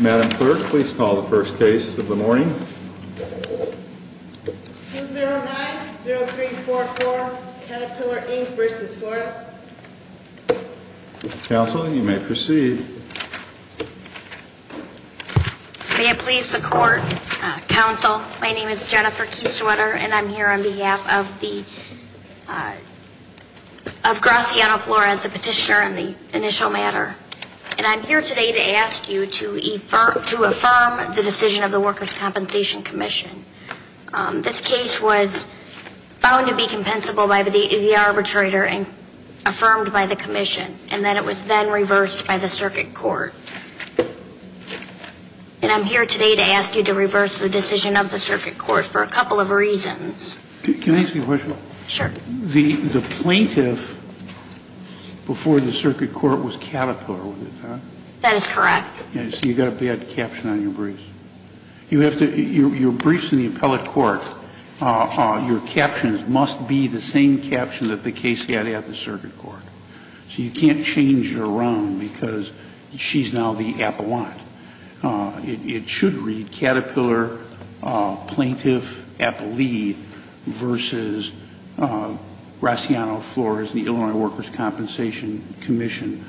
Madam Clerk, please call the first case of the morning. 2090344, Caterpillar, Inc. v. Flores Counsel, you may proceed. May it please the Court, Counsel, my name is Jennifer Kiestewetter and I'm here on behalf of the, of Graciano Flores, the petitioner on the initial matter. And I'm here today to ask you to affirm the decision of the Workers' Compensation Commission. This case was found to be compensable by the arbitrator and affirmed by the Commission and then it was then reversed by the Circuit Court. And I'm here today to ask you to reverse the decision of the Circuit Court for a couple of reasons. Can I ask you a question? Sure. The plaintiff before the Circuit Court was Caterpillar, was it not? That is correct. So you've got a bad caption on your briefs. You have to, your briefs in the appellate court, your captions must be the same captions that the case had at the Circuit Court. So you can't change it around because she's now the appellant. It should read Caterpillar Plaintiff Appellee versus Graciano Flores, the Illinois Workers' Compensation Commission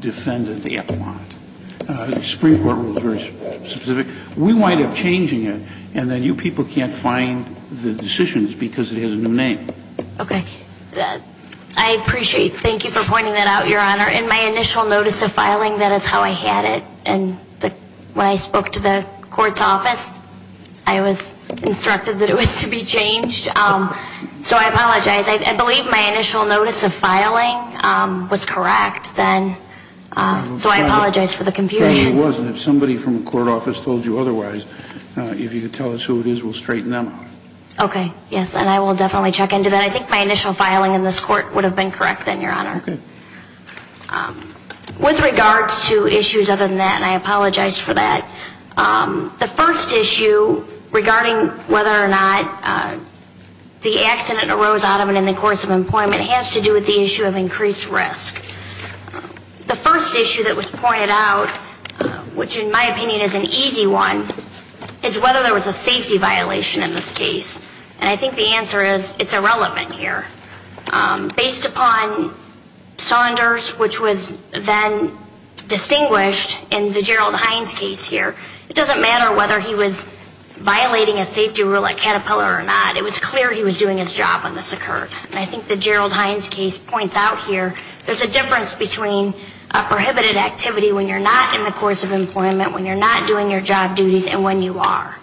Defendant Appellant. The Supreme Court rule is very specific. We wind up changing it and then you people can't find the decisions because it has a new name. Okay. I appreciate. Thank you for pointing that out, Your Honor. In my initial notice of filing, that is how I had it. And when I spoke to the court's office, I was instructed that it was to be changed. So I apologize. I believe my initial notice of filing was correct then. So I apologize for the confusion. No, it wasn't. If somebody from the court office told you otherwise, if you could tell us who it is, we'll straighten them out. Okay. Yes, and I will definitely check into that. I think my initial filing in this court would have been correct then, Your Honor. Okay. With regards to issues other than that, and I apologize for that. The first issue regarding whether or not the accident arose out of it in the course of employment has to do with the issue of increased risk. The first issue that was pointed out, which in my opinion is an easy one, is whether there was a safety violation in this case. And I think the answer is it's irrelevant here. Based upon Saunders, which was then distinguished in the Gerald Hines case here, it doesn't matter whether he was violating a safety rule at Caterpillar or not. It was clear he was doing his job when this occurred. And I think the Gerald Hines case points out here there's a difference between a prohibited activity when you're not in the course of employment, when you're not doing your job duties, and when you are.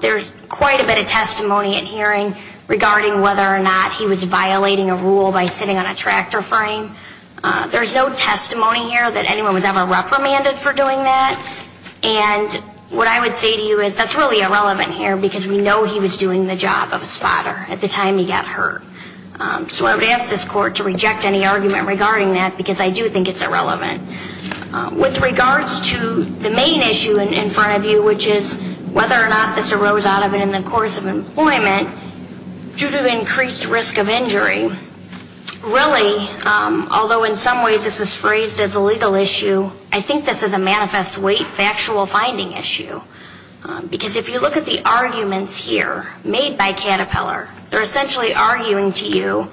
There's quite a bit of testimony in hearing regarding whether or not he was violating a rule by sitting on a tractor frame. There's no testimony here that anyone was ever reprimanded for doing that. And what I would say to you is that's really irrelevant here because we know he was doing the job of a spotter at the time he got hurt. So I would ask this court to reject any argument regarding that because I do think it's irrelevant. With regards to the main issue in front of you, which is whether or not this arose out of it in the course of employment due to increased risk of injury, really, although in some ways this is phrased as a legal issue, I think this is a manifest weight factual finding issue. Because if you look at the arguments here made by Caterpillar, they're essentially arguing to you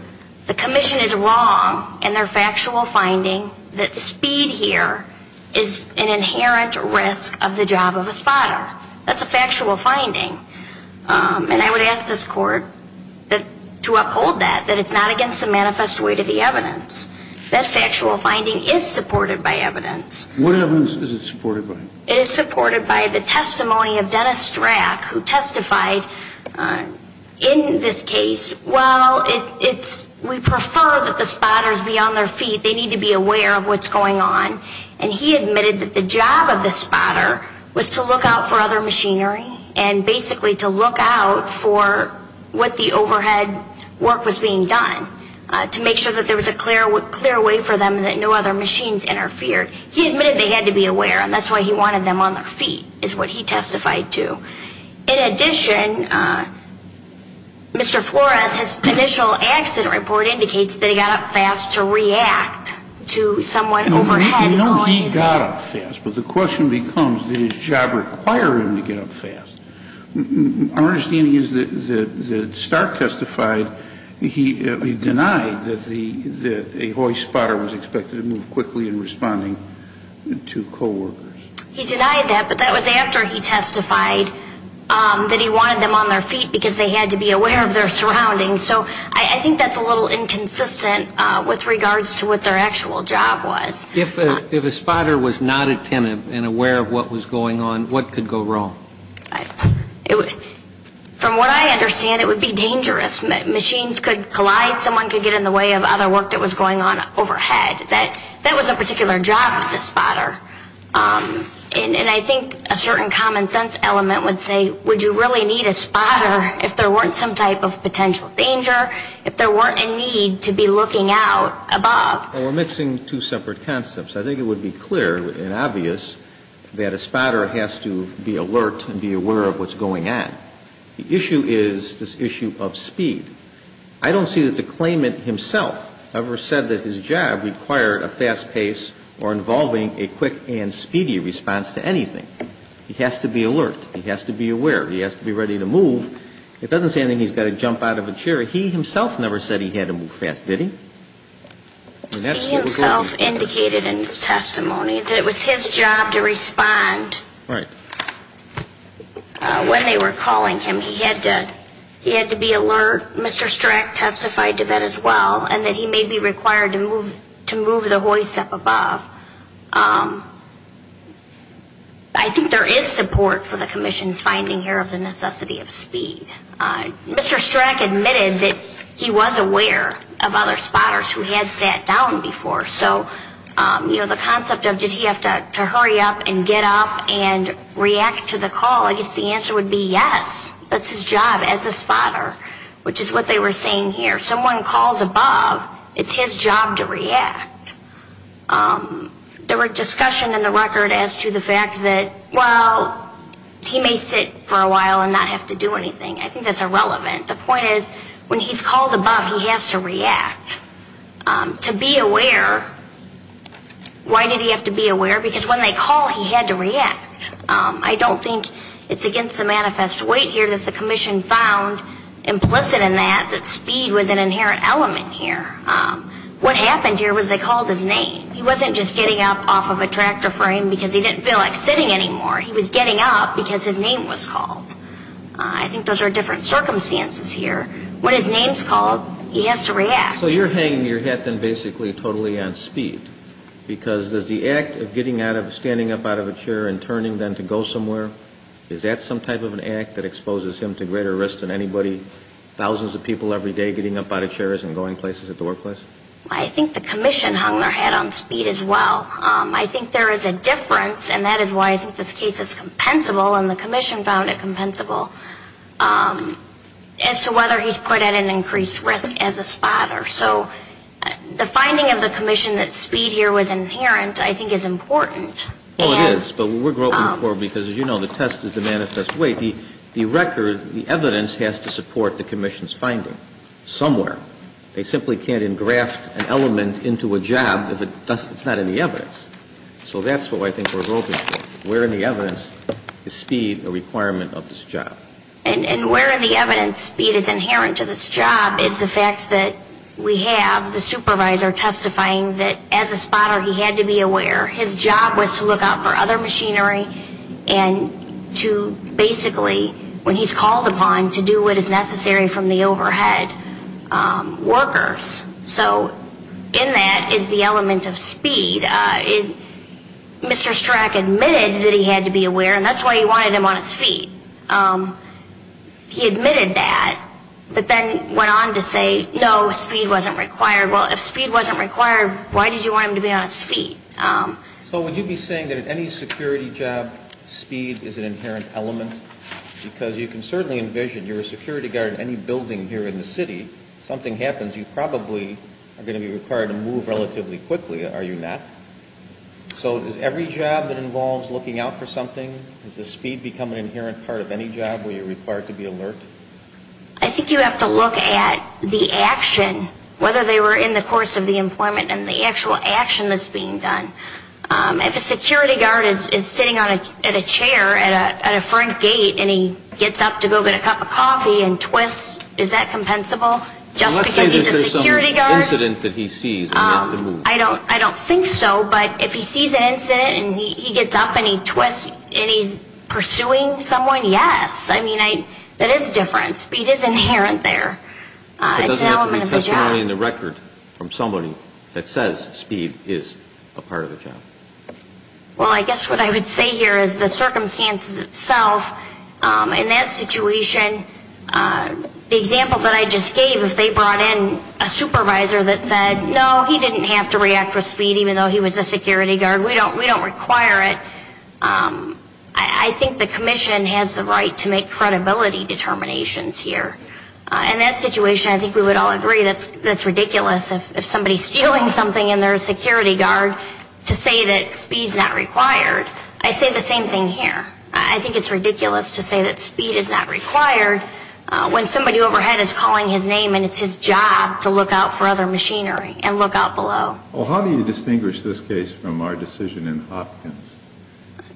the commission is wrong in their factual finding that speed here is an inherent risk of the job of a spotter. That's a factual finding. And I would ask this court to uphold that, that it's not against the manifest weight of the evidence. That factual finding is supported by evidence. What evidence is it supported by? It is supported by the testimony of Dennis Strack, who testified in this case, we prefer that the spotters be on their feet. They need to be aware of what's going on. And he admitted that the job of the spotter was to look out for other machinery and basically to look out for what the overhead work was being done, to make sure that there was a clear way for them and that no other machines interfered. He admitted they had to be aware, and that's why he wanted them on their feet, is what he testified to. In addition, Mr. Flores, his initial accident report indicates that he got up fast to react to someone overhead. You know he got up fast, but the question becomes, did his job require him to get up fast? Our understanding is that Stark testified, he denied that a hoist spotter was expected to move quickly in responding to coworkers. He denied that, but that was after he testified that he wanted them on their feet because they had to be aware of their surroundings. So I think that's a little inconsistent with regards to what their actual job was. If a spotter was not attentive and aware of what was going on, what could go wrong? From what I understand, it would be dangerous. Machines could collide, someone could get in the way of other work that was going on overhead. That was a particular job of the spotter. And I think a certain common sense element would say, would you really need a spotter if there weren't some type of potential danger, if there weren't a need to be looking out above? Well, we're mixing two separate concepts. I think it would be clear and obvious that a spotter has to be alert and be aware of what's going on. The issue is this issue of speed. I don't see that the claimant himself ever said that his job required a fast pace or involving a quick and speedy response to anything. He has to be alert. He has to be aware. He has to be ready to move. It doesn't say anything, he's got to jump out of a chair. He himself never said he had to move fast, did he? He himself indicated in his testimony that it was his job to respond. Right. When they were calling him, he had to be alert. Mr. Strack testified to that as well, and that he may be required to move the hoist up above. I think there is support for the Commission's finding here of the necessity of speed. Mr. Strack admitted that he was aware of other spotters who had sat down before. So, you know, the concept of did he have to hurry up and get up and react to the call, I guess the answer would be yes. That's his job as a spotter, which is what they were saying here. If someone calls above, it's his job to react. There were discussion in the record as to the fact that, well, he may sit for a while and not have to do anything. I think that's irrelevant. The point is when he's called above, he has to react. To be aware, why did he have to be aware? Because when they call, he had to react. I don't think it's against the manifest weight here that the Commission found implicit in that, that speed was an inherent element here. What happened here was they called his name. He wasn't just getting up off of a tractor frame because he didn't feel like sitting anymore. He was getting up because his name was called. I think those are different circumstances here. When his name is called, he has to react. So you're hanging your hat then basically totally on speed because does the act of getting up, standing up out of a chair and turning then to go somewhere, is that some type of an act that exposes him to greater risk than anybody, thousands of people every day getting up out of chairs and going places at the workplace? I think the Commission hung their hat on speed as well. I think there is a difference, and that is why I think this case is compensable, and the Commission found it compensable, as to whether he's put at an increased risk as a spotter. So the finding of the Commission that speed here was inherent I think is important. Well, it is, but we're groping for it because, as you know, the test is the manifest weight. The record, the evidence has to support the Commission's finding somewhere. They simply can't engraft an element into a job if it's not in the evidence. So that's what I think we're groping for. Where in the evidence is speed a requirement of this job? And where in the evidence speed is inherent to this job is the fact that we have the supervisor testifying that as a spotter he had to be aware his job was to look out for other machinery and to basically, when he's called upon, to do what is necessary from the overhead workers. So in that is the element of speed. And Mr. Strack admitted that he had to be aware, and that's why he wanted him on his feet. He admitted that, but then went on to say, no, speed wasn't required. Well, if speed wasn't required, why did you want him to be on his feet? So would you be saying that at any security job speed is an inherent element? Because you can certainly envision you're a security guard in any building here in the city. If something happens, you probably are going to be required to move relatively quickly, are you not? So does every job that involves looking out for something, does the speed become an inherent part of any job where you're required to be alert? I think you have to look at the action, whether they were in the course of the employment and the actual action that's being done. If a security guard is sitting at a chair at a front gate and he gets up to go get a cup of coffee and twists, is that compensable just because he's a security guard? Let's say there's some incident that he sees and he has to move. I don't think so, but if he sees an incident and he gets up and he twists and he's pursuing someone, yes. I mean, that is different. Speed is inherent there. It's an element of the job. It doesn't have to be testimony in the record from somebody that says speed is a part of the job. Well, I guess what I would say here is the circumstances itself, in that situation, the example that I just gave, if they brought in a supervisor that said, no, he didn't have to react with speed even though he was a security guard. We don't require it. I think the commission has the right to make credibility determinations here. In that situation, I think we would all agree that's ridiculous. If somebody's stealing something and they're a security guard, to say that speed's not required. I say the same thing here. I think it's ridiculous to say that speed is not required when somebody overhead is calling his name and it's his job to look out for other machinery and look out below. Well, how do you distinguish this case from our decision in Hopkins?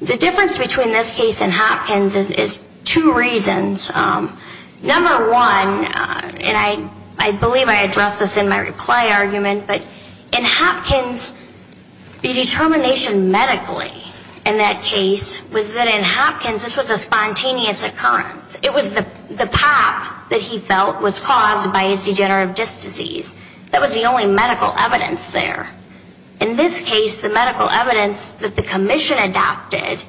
The difference between this case and Hopkins is two reasons. Number one, and I believe I addressed this in my reply argument, but in Hopkins, the determination medically in that case was that in Hopkins this was a spontaneous occurrence. It was the pop that he felt was caused by his degenerative disc disease. That was the only medical evidence there. In this case, the medical evidence that the commission adopted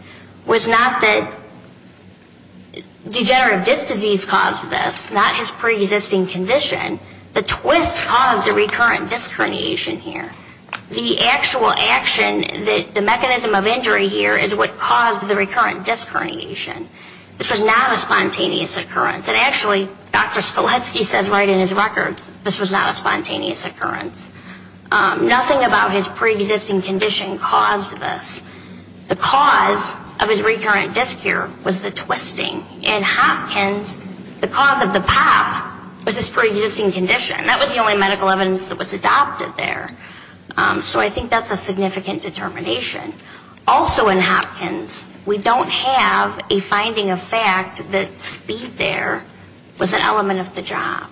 was not that degenerative disc disease caused this, not his preexisting condition. The twist caused a recurrent disc herniation here. The actual action, the mechanism of injury here is what caused the recurrent disc herniation. This was not a spontaneous occurrence. And actually, Dr. Skoleski says right in his record, this was not a spontaneous occurrence. Nothing about his preexisting condition caused this. The cause of his recurrent disc here was the twisting. In Hopkins, the cause of the pop was his preexisting condition. That was the only medical evidence that was adopted there. So I think that's a significant determination. Also in Hopkins, we don't have a finding of fact that speed there was an element of the job.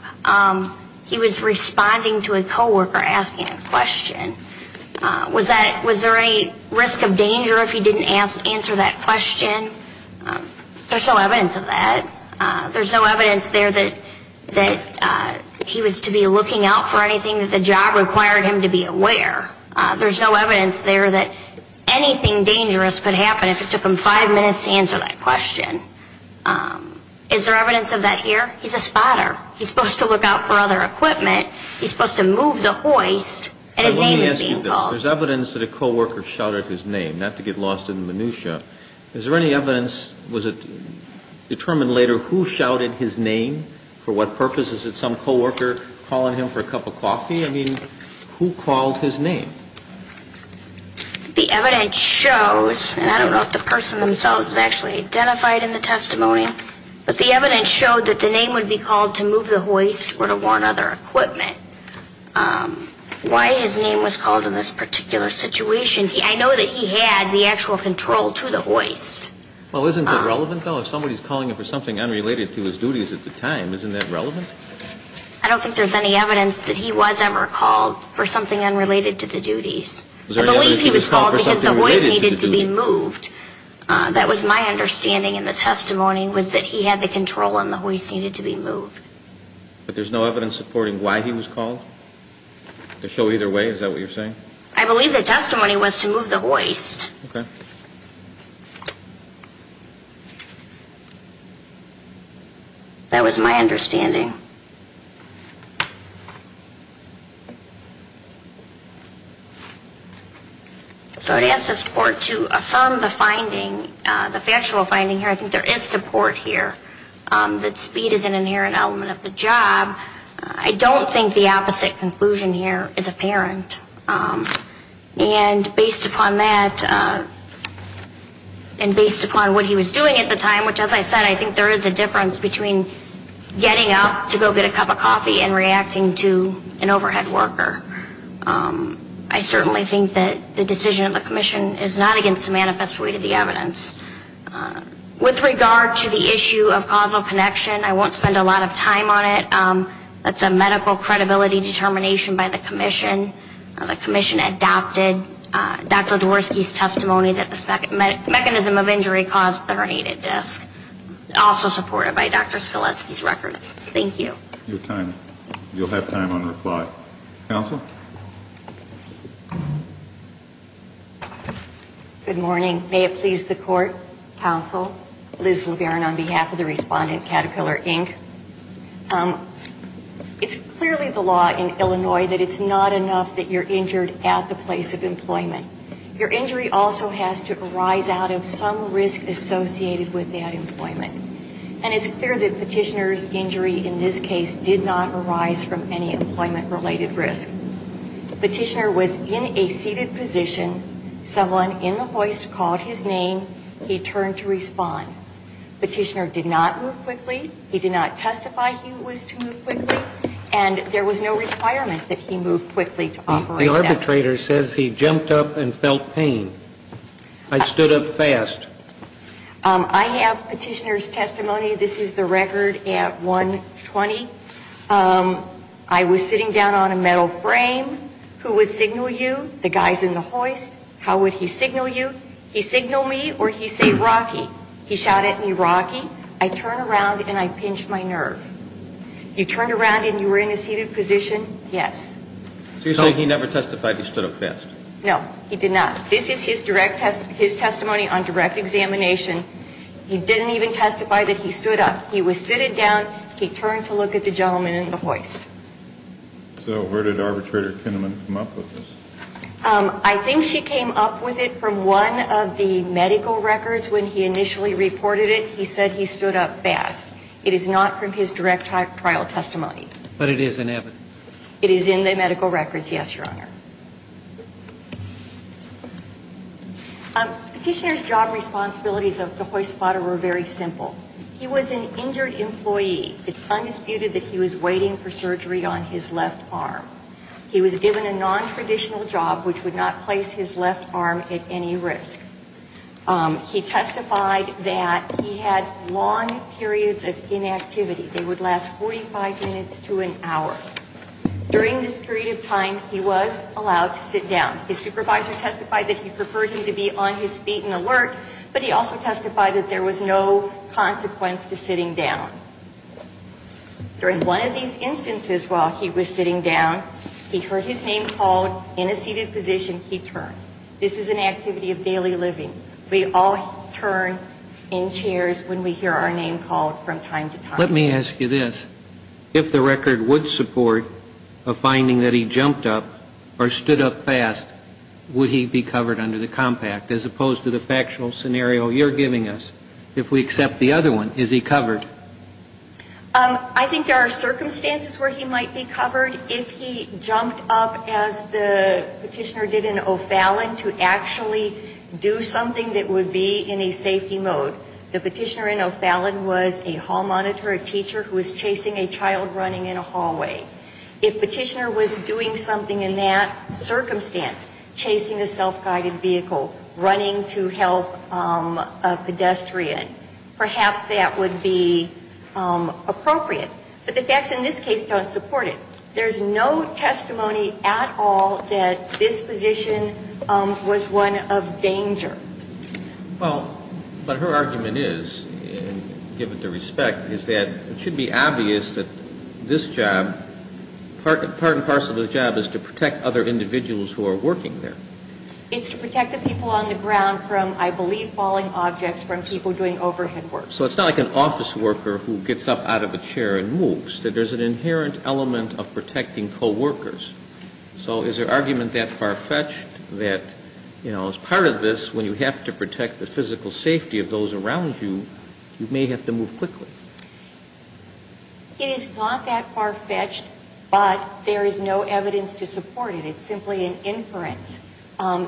He was responding to a coworker asking a question. Was there any risk of danger if he didn't answer that question? There's no evidence of that. There's no evidence there that he was to be looking out for anything that the job required him to be aware. There's no evidence there that anything dangerous could happen if it took him five minutes to answer that question. Is there evidence of that here? He's a spotter. He's supposed to look out for other equipment. He's supposed to move the hoist, and his name is being called. Let me ask you this. There's evidence that a coworker shouted his name, not to get lost in the minutia. Is there any evidence, was it determined later who shouted his name? For what purpose? Is it some coworker calling him for a cup of coffee? I mean, who called his name? The evidence shows, and I don't know if the person themselves actually identified in the testimony, but the evidence showed that the name would be called to move the hoist or to warn other equipment. Why his name was called in this particular situation, I know that he had the actual control to the hoist. Well, isn't that relevant, though? If somebody's calling him for something unrelated to his duties at the time, isn't that relevant? I don't think there's any evidence that he was ever called for something unrelated to the duties. I believe he was called because the hoist needed to be moved. That was my understanding in the testimony, was that he had the control and the hoist needed to be moved. But there's no evidence supporting why he was called? To show either way, is that what you're saying? I believe the testimony was to move the hoist. That was my understanding. So it has to support to affirm the finding, the factual finding here. I think there is support here that speed is an inherent element of the job. I don't think the opposite conclusion here is apparent. And based upon that, and based upon what he was doing at the time, which as I said, I think there is a difference between getting up to go get a cup of coffee and reacting to an overhead worker. I certainly think that the decision of the commission is not against the manifest way to the evidence. With regard to the issue of causal connection, I won't spend a lot of time on it. That's a medical credibility determination by the commission. The commission adopted Dr. Dworsky's testimony that the mechanism of injury caused the herniated disc. Also supported by Dr. Skleski's records. Thank you. Your time. You'll have time on reply. Counsel? Good morning. May it please the court, counsel, Liz LeBaron on behalf of the respondent Caterpillar, Inc. It's clearly the law in Illinois that it's not enough that you're injured at the place of employment. Your injury also has to arise out of some risk associated with that employment. And it's clear that petitioner's injury in this case did not arise from any employment-related risk. Petitioner was in a seated position. Someone in the hoist called his name. He turned to respond. Petitioner did not move quickly. He did not testify he was to move quickly. And there was no requirement that he move quickly to operate. The arbitrator says he jumped up and felt pain. I stood up fast. I have petitioner's testimony. This is the record at 1.20. I was sitting down on a metal frame. Who would signal you? The guys in the hoist. How would he signal you? He signal me or he say, Rocky. He shouted at me, Rocky. I turned around and I pinched my nerve. You turned around and you were in a seated position? Yes. So you're saying he never testified he stood up fast? No, he did not. This is his direct testimony on direct examination. He didn't even testify that he stood up. He was seated down. He turned to look at the gentleman in the hoist. So where did arbitrator Kinnaman come up with this? I think she came up with it from one of the medical records when he initially reported it. He said he stood up fast. It is not from his direct trial testimony. But it is in evidence? It is in the medical records, yes, Your Honor. Petitioner's job responsibilities of the hoist spotter were very simple. He was an injured employee. It's undisputed that he was waiting for surgery on his left arm. He was given a nontraditional job which would not place his left arm at any risk. He testified that he had long periods of inactivity. They would last 45 minutes to an hour. During this period of time, he was allowed to sit down. His supervisor testified that he preferred him to be on his feet and alert. But he also testified that there was no consequence to sitting down. During one of these instances while he was sitting down, he heard his name called. In a seated position, he turned. This is an activity of daily living. We all turn in chairs when we hear our name called from time to time. Let me ask you this. If the record would support a finding that he jumped up or stood up fast, would he be covered under the compact as opposed to the factual scenario you're giving us? If we accept the other one, is he covered? I think there are circumstances where he might be covered. If he jumped up as the petitioner did in O'Fallon to actually do something that would be in a safety mode. The petitioner in O'Fallon was a hall monitor, a teacher who was chasing a child running in a hallway. If petitioner was doing something in that circumstance, chasing a self-guided vehicle, running to help a pedestrian, perhaps that would be appropriate. But the facts in this case don't support it. There's no testimony at all that this position was one of danger. Well, but her argument is, given the respect, is that it should be obvious that this job, part and parcel of the job is to protect other individuals who are working there. It's to protect the people on the ground from, I believe, falling objects from people doing overhead work. So it's not like an office worker who gets up out of a chair and moves. There's an inherent element of protecting coworkers. So is her argument that far-fetched that, you know, as part of this, when you have to protect the physical safety of those around you, you may have to move quickly? It is not that far-fetched, but there is no evidence to support it. It's simply an inference.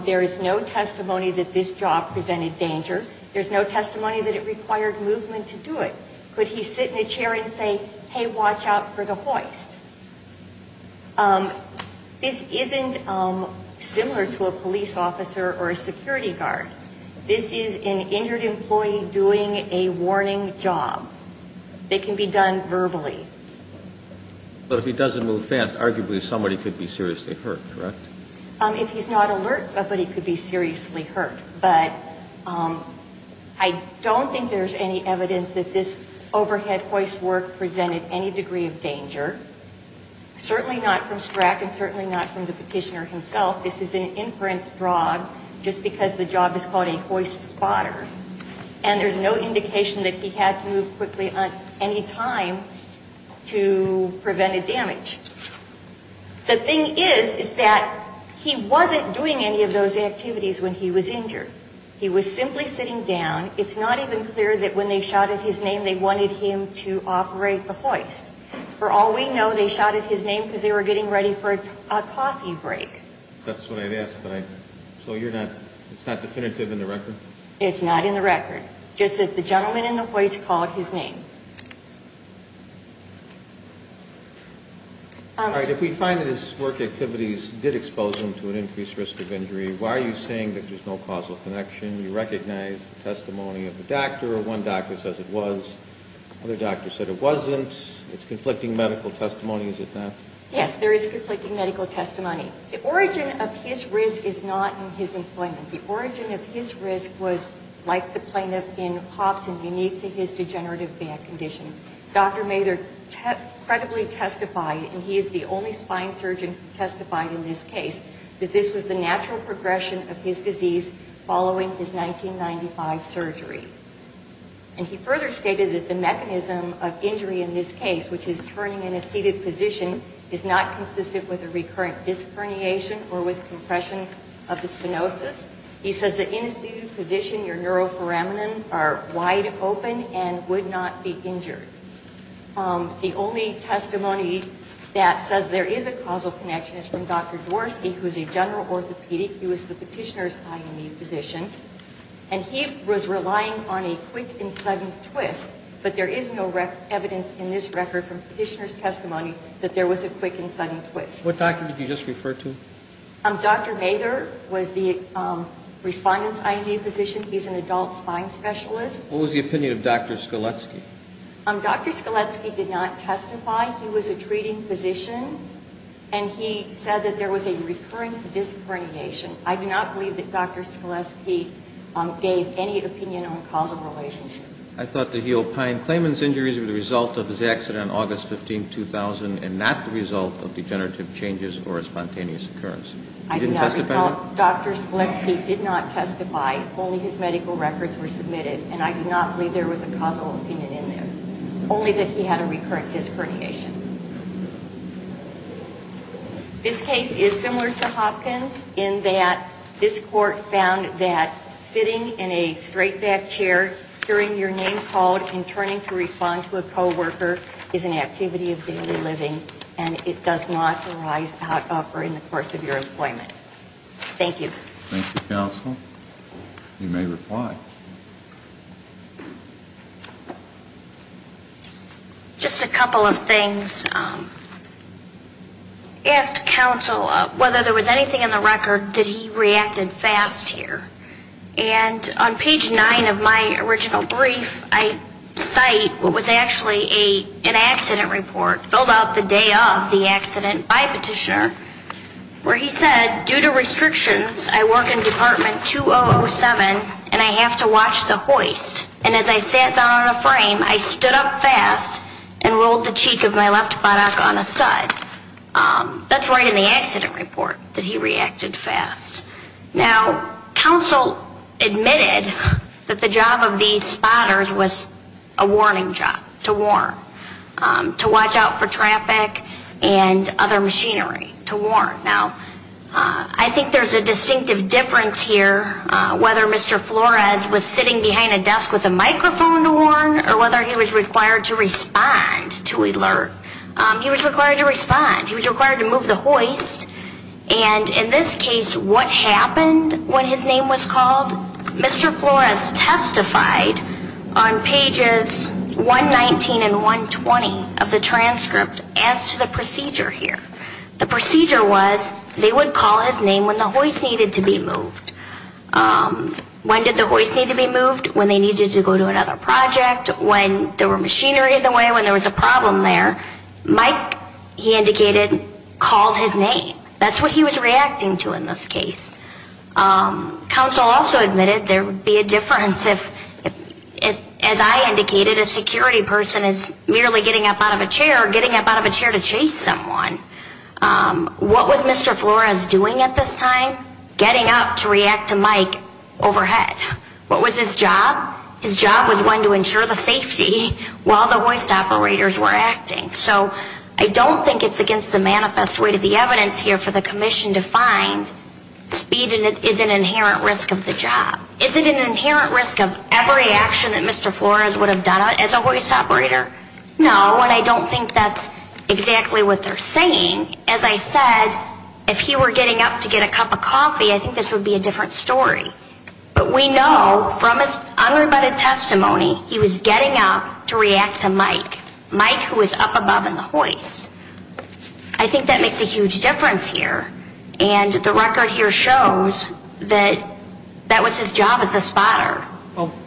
There is no testimony that this job presented danger. There's no testimony that it required movement to do it. Could he sit in a chair and say, hey, watch out for the hoist? This isn't similar to a police officer or a security guard. This is an injured employee doing a warning job. It can be done verbally. But if he doesn't move fast, arguably somebody could be seriously hurt, correct? If he's not alert, somebody could be seriously hurt. But I don't think there's any evidence that this overhead hoist work presented any degree of danger. Certainly not from Strack and certainly not from the petitioner himself. This is an inference fraud just because the job is called a hoist spotter. And there's no indication that he had to move quickly at any time to prevent a damage. The thing is, is that he wasn't doing any of those activities when he was injured. He was simply sitting down. It's not even clear that when they shouted his name, they wanted him to operate the hoist. For all we know, they shouted his name because they were getting ready for a coffee break. That's what I've asked. So it's not definitive in the record? It's not in the record. Just that the gentleman in the hoist called his name. All right. If we find that his work activities did expose him to an increased risk of injury, why are you saying that there's no causal connection? You recognize the testimony of the doctor. One doctor says it was. Other doctors said it wasn't. It's conflicting medical testimony. Is it not? Yes, there is conflicting medical testimony. The origin of his risk is not in his employment. The origin of his risk was, like the plaintiff in Hobson, unique to his degenerative condition. Dr. Mather credibly testified, and he is the only spine surgeon who testified in this case, that this was the natural progression of his disease following his 1995 surgery. And he further stated that the mechanism of injury in this case, which is turning in a seated position, is not consistent with a recurrent disc herniation or with compression of the stenosis. He says that in a seated position, your neuroforamen are wide open and would not be injured. The only testimony that says there is a causal connection is from Dr. Dworsky, who is a general orthopedic. He was the petitioner's IME physician. And he was relying on a quick and sudden twist, but there is no evidence in this record from petitioner's testimony that there was a quick and sudden twist. What doctor did you just refer to? Dr. Mather was the respondent's IME physician. He's an adult spine specialist. What was the opinion of Dr. Skoletsky? Dr. Skoletsky did not testify. He was a treating physician, and he said that there was a recurrent disc herniation. I do not believe that Dr. Skoletsky gave any opinion on causal relationship. I thought that he opined Clayman's injuries were the result of his accident on August 15, 2000 and not the result of degenerative changes or a spontaneous occurrence. I did not recall Dr. Skoletsky did not testify. Only his medical records were submitted. And I do not believe there was a causal opinion in there. Only that he had a recurrent disc herniation. This case is similar to Hopkins in that this court found that sitting in a straight-back chair, hearing your name called and turning to respond to a co-worker is an activity of daily living, and it does not arise out of or in the course of your employment. Thank you. Thank you, counsel. You may reply. Just a couple of things. I asked counsel whether there was anything in the record that he reacted fast here. And on page 9 of my original brief, I cite what was actually an accident report filled out the day of the accident by a petitioner where he said, due to restrictions, I work in Department 2007, and I have to watch the hoist. And as I sat down on a frame, I stood up fast and rolled the cheek of my left buttock on a stud. That's right in the accident report that he reacted fast. Now, counsel admitted that the job of these spotters was a warning job, to warn, to watch out for traffic and other machinery, to warn. Now, I think there's a distinctive difference here whether Mr. Flores was sitting behind a desk with a microphone to warn or whether he was required to respond, to alert. He was required to respond. He was required to move the hoist. And in this case, what happened when his name was called? Mr. Flores testified on pages 119 and 120 of the transcript as to the procedure here. The procedure was they would call his name when the hoist needed to be moved. When did the hoist need to be moved? When they needed to go to another project, when there was machinery in the way, when there was a problem there. Mike, he indicated, called his name. That's what he was reacting to in this case. Counsel also admitted there would be a difference if, as I indicated, a security person is merely getting up out of a chair or getting up out of a chair to chase someone. What was Mr. Flores doing at this time? Getting up to react to Mike overhead. What was his job? His job was one to ensure the safety while the hoist operators were acting. So I don't think it's against the manifest way to the evidence here for the commission to find speed is an inherent risk of the job. Is it an inherent risk of every action that Mr. Flores would have done as a hoist operator? No, and I don't think that's exactly what they're saying. As I said, if he were getting up to get a cup of coffee, I think this would be a different story. But we know from his unrebutted testimony he was getting up to react to Mike, Mike who was up above in the hoist. I think that makes a huge difference here. And the record here shows that that was his job as a spotter.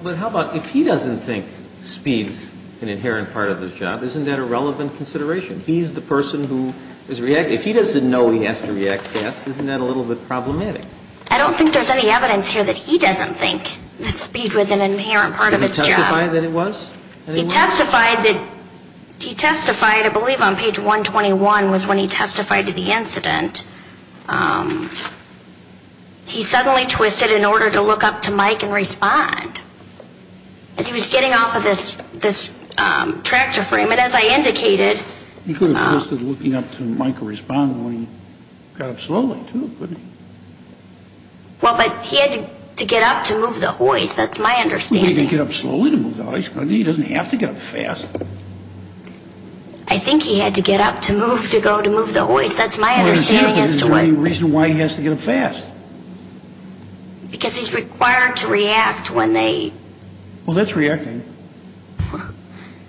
But how about if he doesn't think speed's an inherent part of his job, isn't that a relevant consideration? He's the person who is reacting. If he doesn't know he has to react fast, isn't that a little bit problematic? I don't think there's any evidence here that he doesn't think that speed was an inherent part of his job. Did he testify that it was? He testified that, he testified, I believe on page 121 was when he testified to the incident. He suddenly twisted in order to look up to Mike and respond. As he was getting off of this tractor frame, and as I indicated. He could have twisted looking up to Mike to respond when he got up slowly too, couldn't he? Well, but he had to get up to move the hoist, that's my understanding. Well, he could get up slowly to move the hoist, couldn't he? He doesn't have to get up fast. I think he had to get up to move to go to move the hoist, that's my understanding as to what. Well, there's no reason why he has to get up fast. Because he's required to react when they. Well, that's reacting.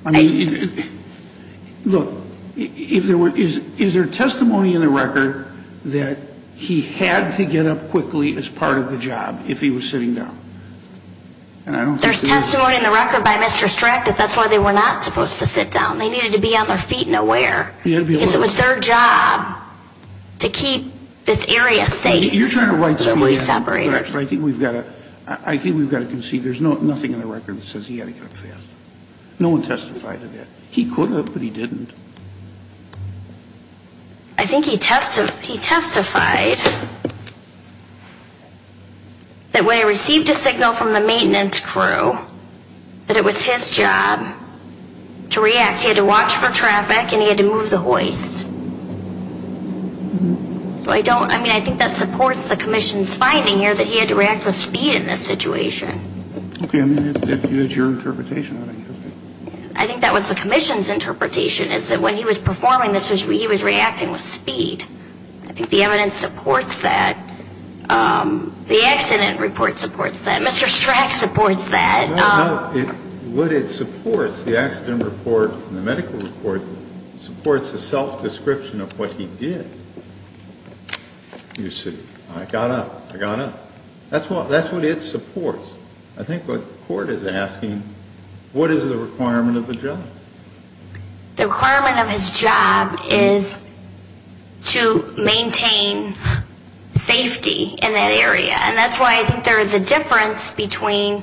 I mean, look, is there testimony in the record that he had to get up quickly as part of the job if he was sitting down? There's testimony in the record by Mr. Streck that that's why they were not supposed to sit down. They needed to be on their feet and aware. Because it was their job to keep this area safe. You're trying to write that down. I think we've got to concede there's nothing in the record that says he had to get up fast. No one testified to that. He could have, but he didn't. I think he testified that when he received a signal from the maintenance crew that it was his job to react. He had to watch for traffic and he had to move the hoist. I mean, I think that supports the commission's finding here that he had to react with speed in this situation. Okay. I mean, if that's your interpretation. I think that was the commission's interpretation is that when he was performing this, he was reacting with speed. I think the evidence supports that. The accident report supports that. Mr. Streck supports that. No, no. What it supports, the accident report and the medical report, supports the self-description of what he did. You see, I got up. I got up. That's what it supports. I think what the court is asking, what is the requirement of the job? The requirement of his job is to maintain safety in that area. And that's why I think there is a difference between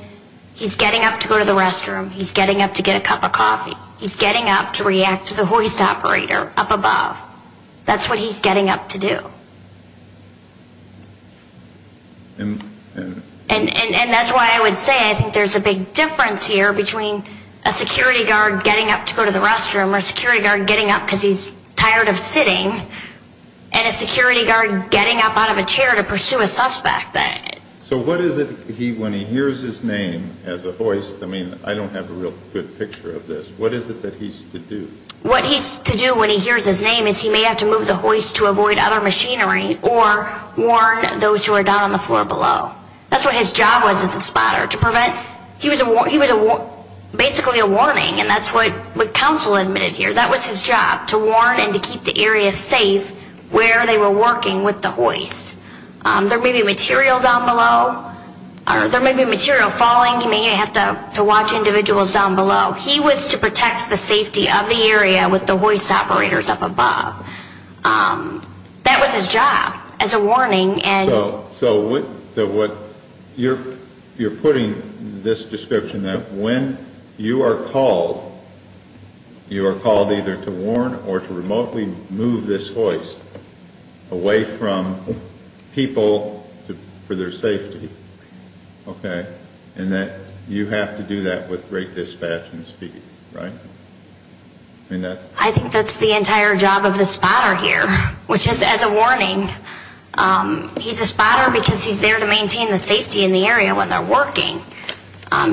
he's getting up to go to the restroom, he's getting up to get a cup of coffee, he's getting up to react to the hoist operator up above. That's what he's getting up to do. And that's why I would say I think there's a big difference here between a security guard getting up to go to the restroom or a security guard getting up because he's tired of sitting and a security guard getting up out of a chair to pursue a suspect. So what is it when he hears his name as a hoist, I mean, I don't have a real good picture of this, what is it that he's to do? What he's to do when he hears his name is he may have to move the hoist to avoid other machinery or warn those who are down on the floor below. That's what his job was as a spotter, to prevent. He was basically a warning, and that's what counsel admitted here. That was his job, to warn and to keep the area safe where they were working with the hoist. There may be material down below, or there may be material falling. He may have to watch individuals down below. He was to protect the safety of the area with the hoist operators up above. That was his job as a warning. So you're putting this description that when you are called, you are called either to warn or to remotely move this hoist away from people for their safety, okay? And that you have to do that with great dispatch and speed, right? I think that's the entire job of the spotter here, which is as a warning. He's a spotter because he's there to maintain the safety in the area when they're working,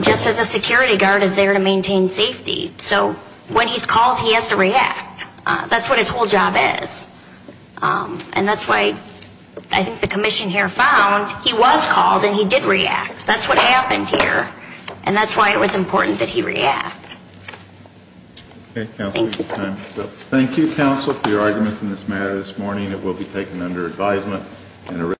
just as a security guard is there to maintain safety. So when he's called, he has to react. That's what his whole job is. And that's why I think the commission here found he was called and he did react. That's what happened here. And that's why it was important that he react. Thank you. Thank you, counsel, for your arguments in this matter this morning. It will be taken under advisement.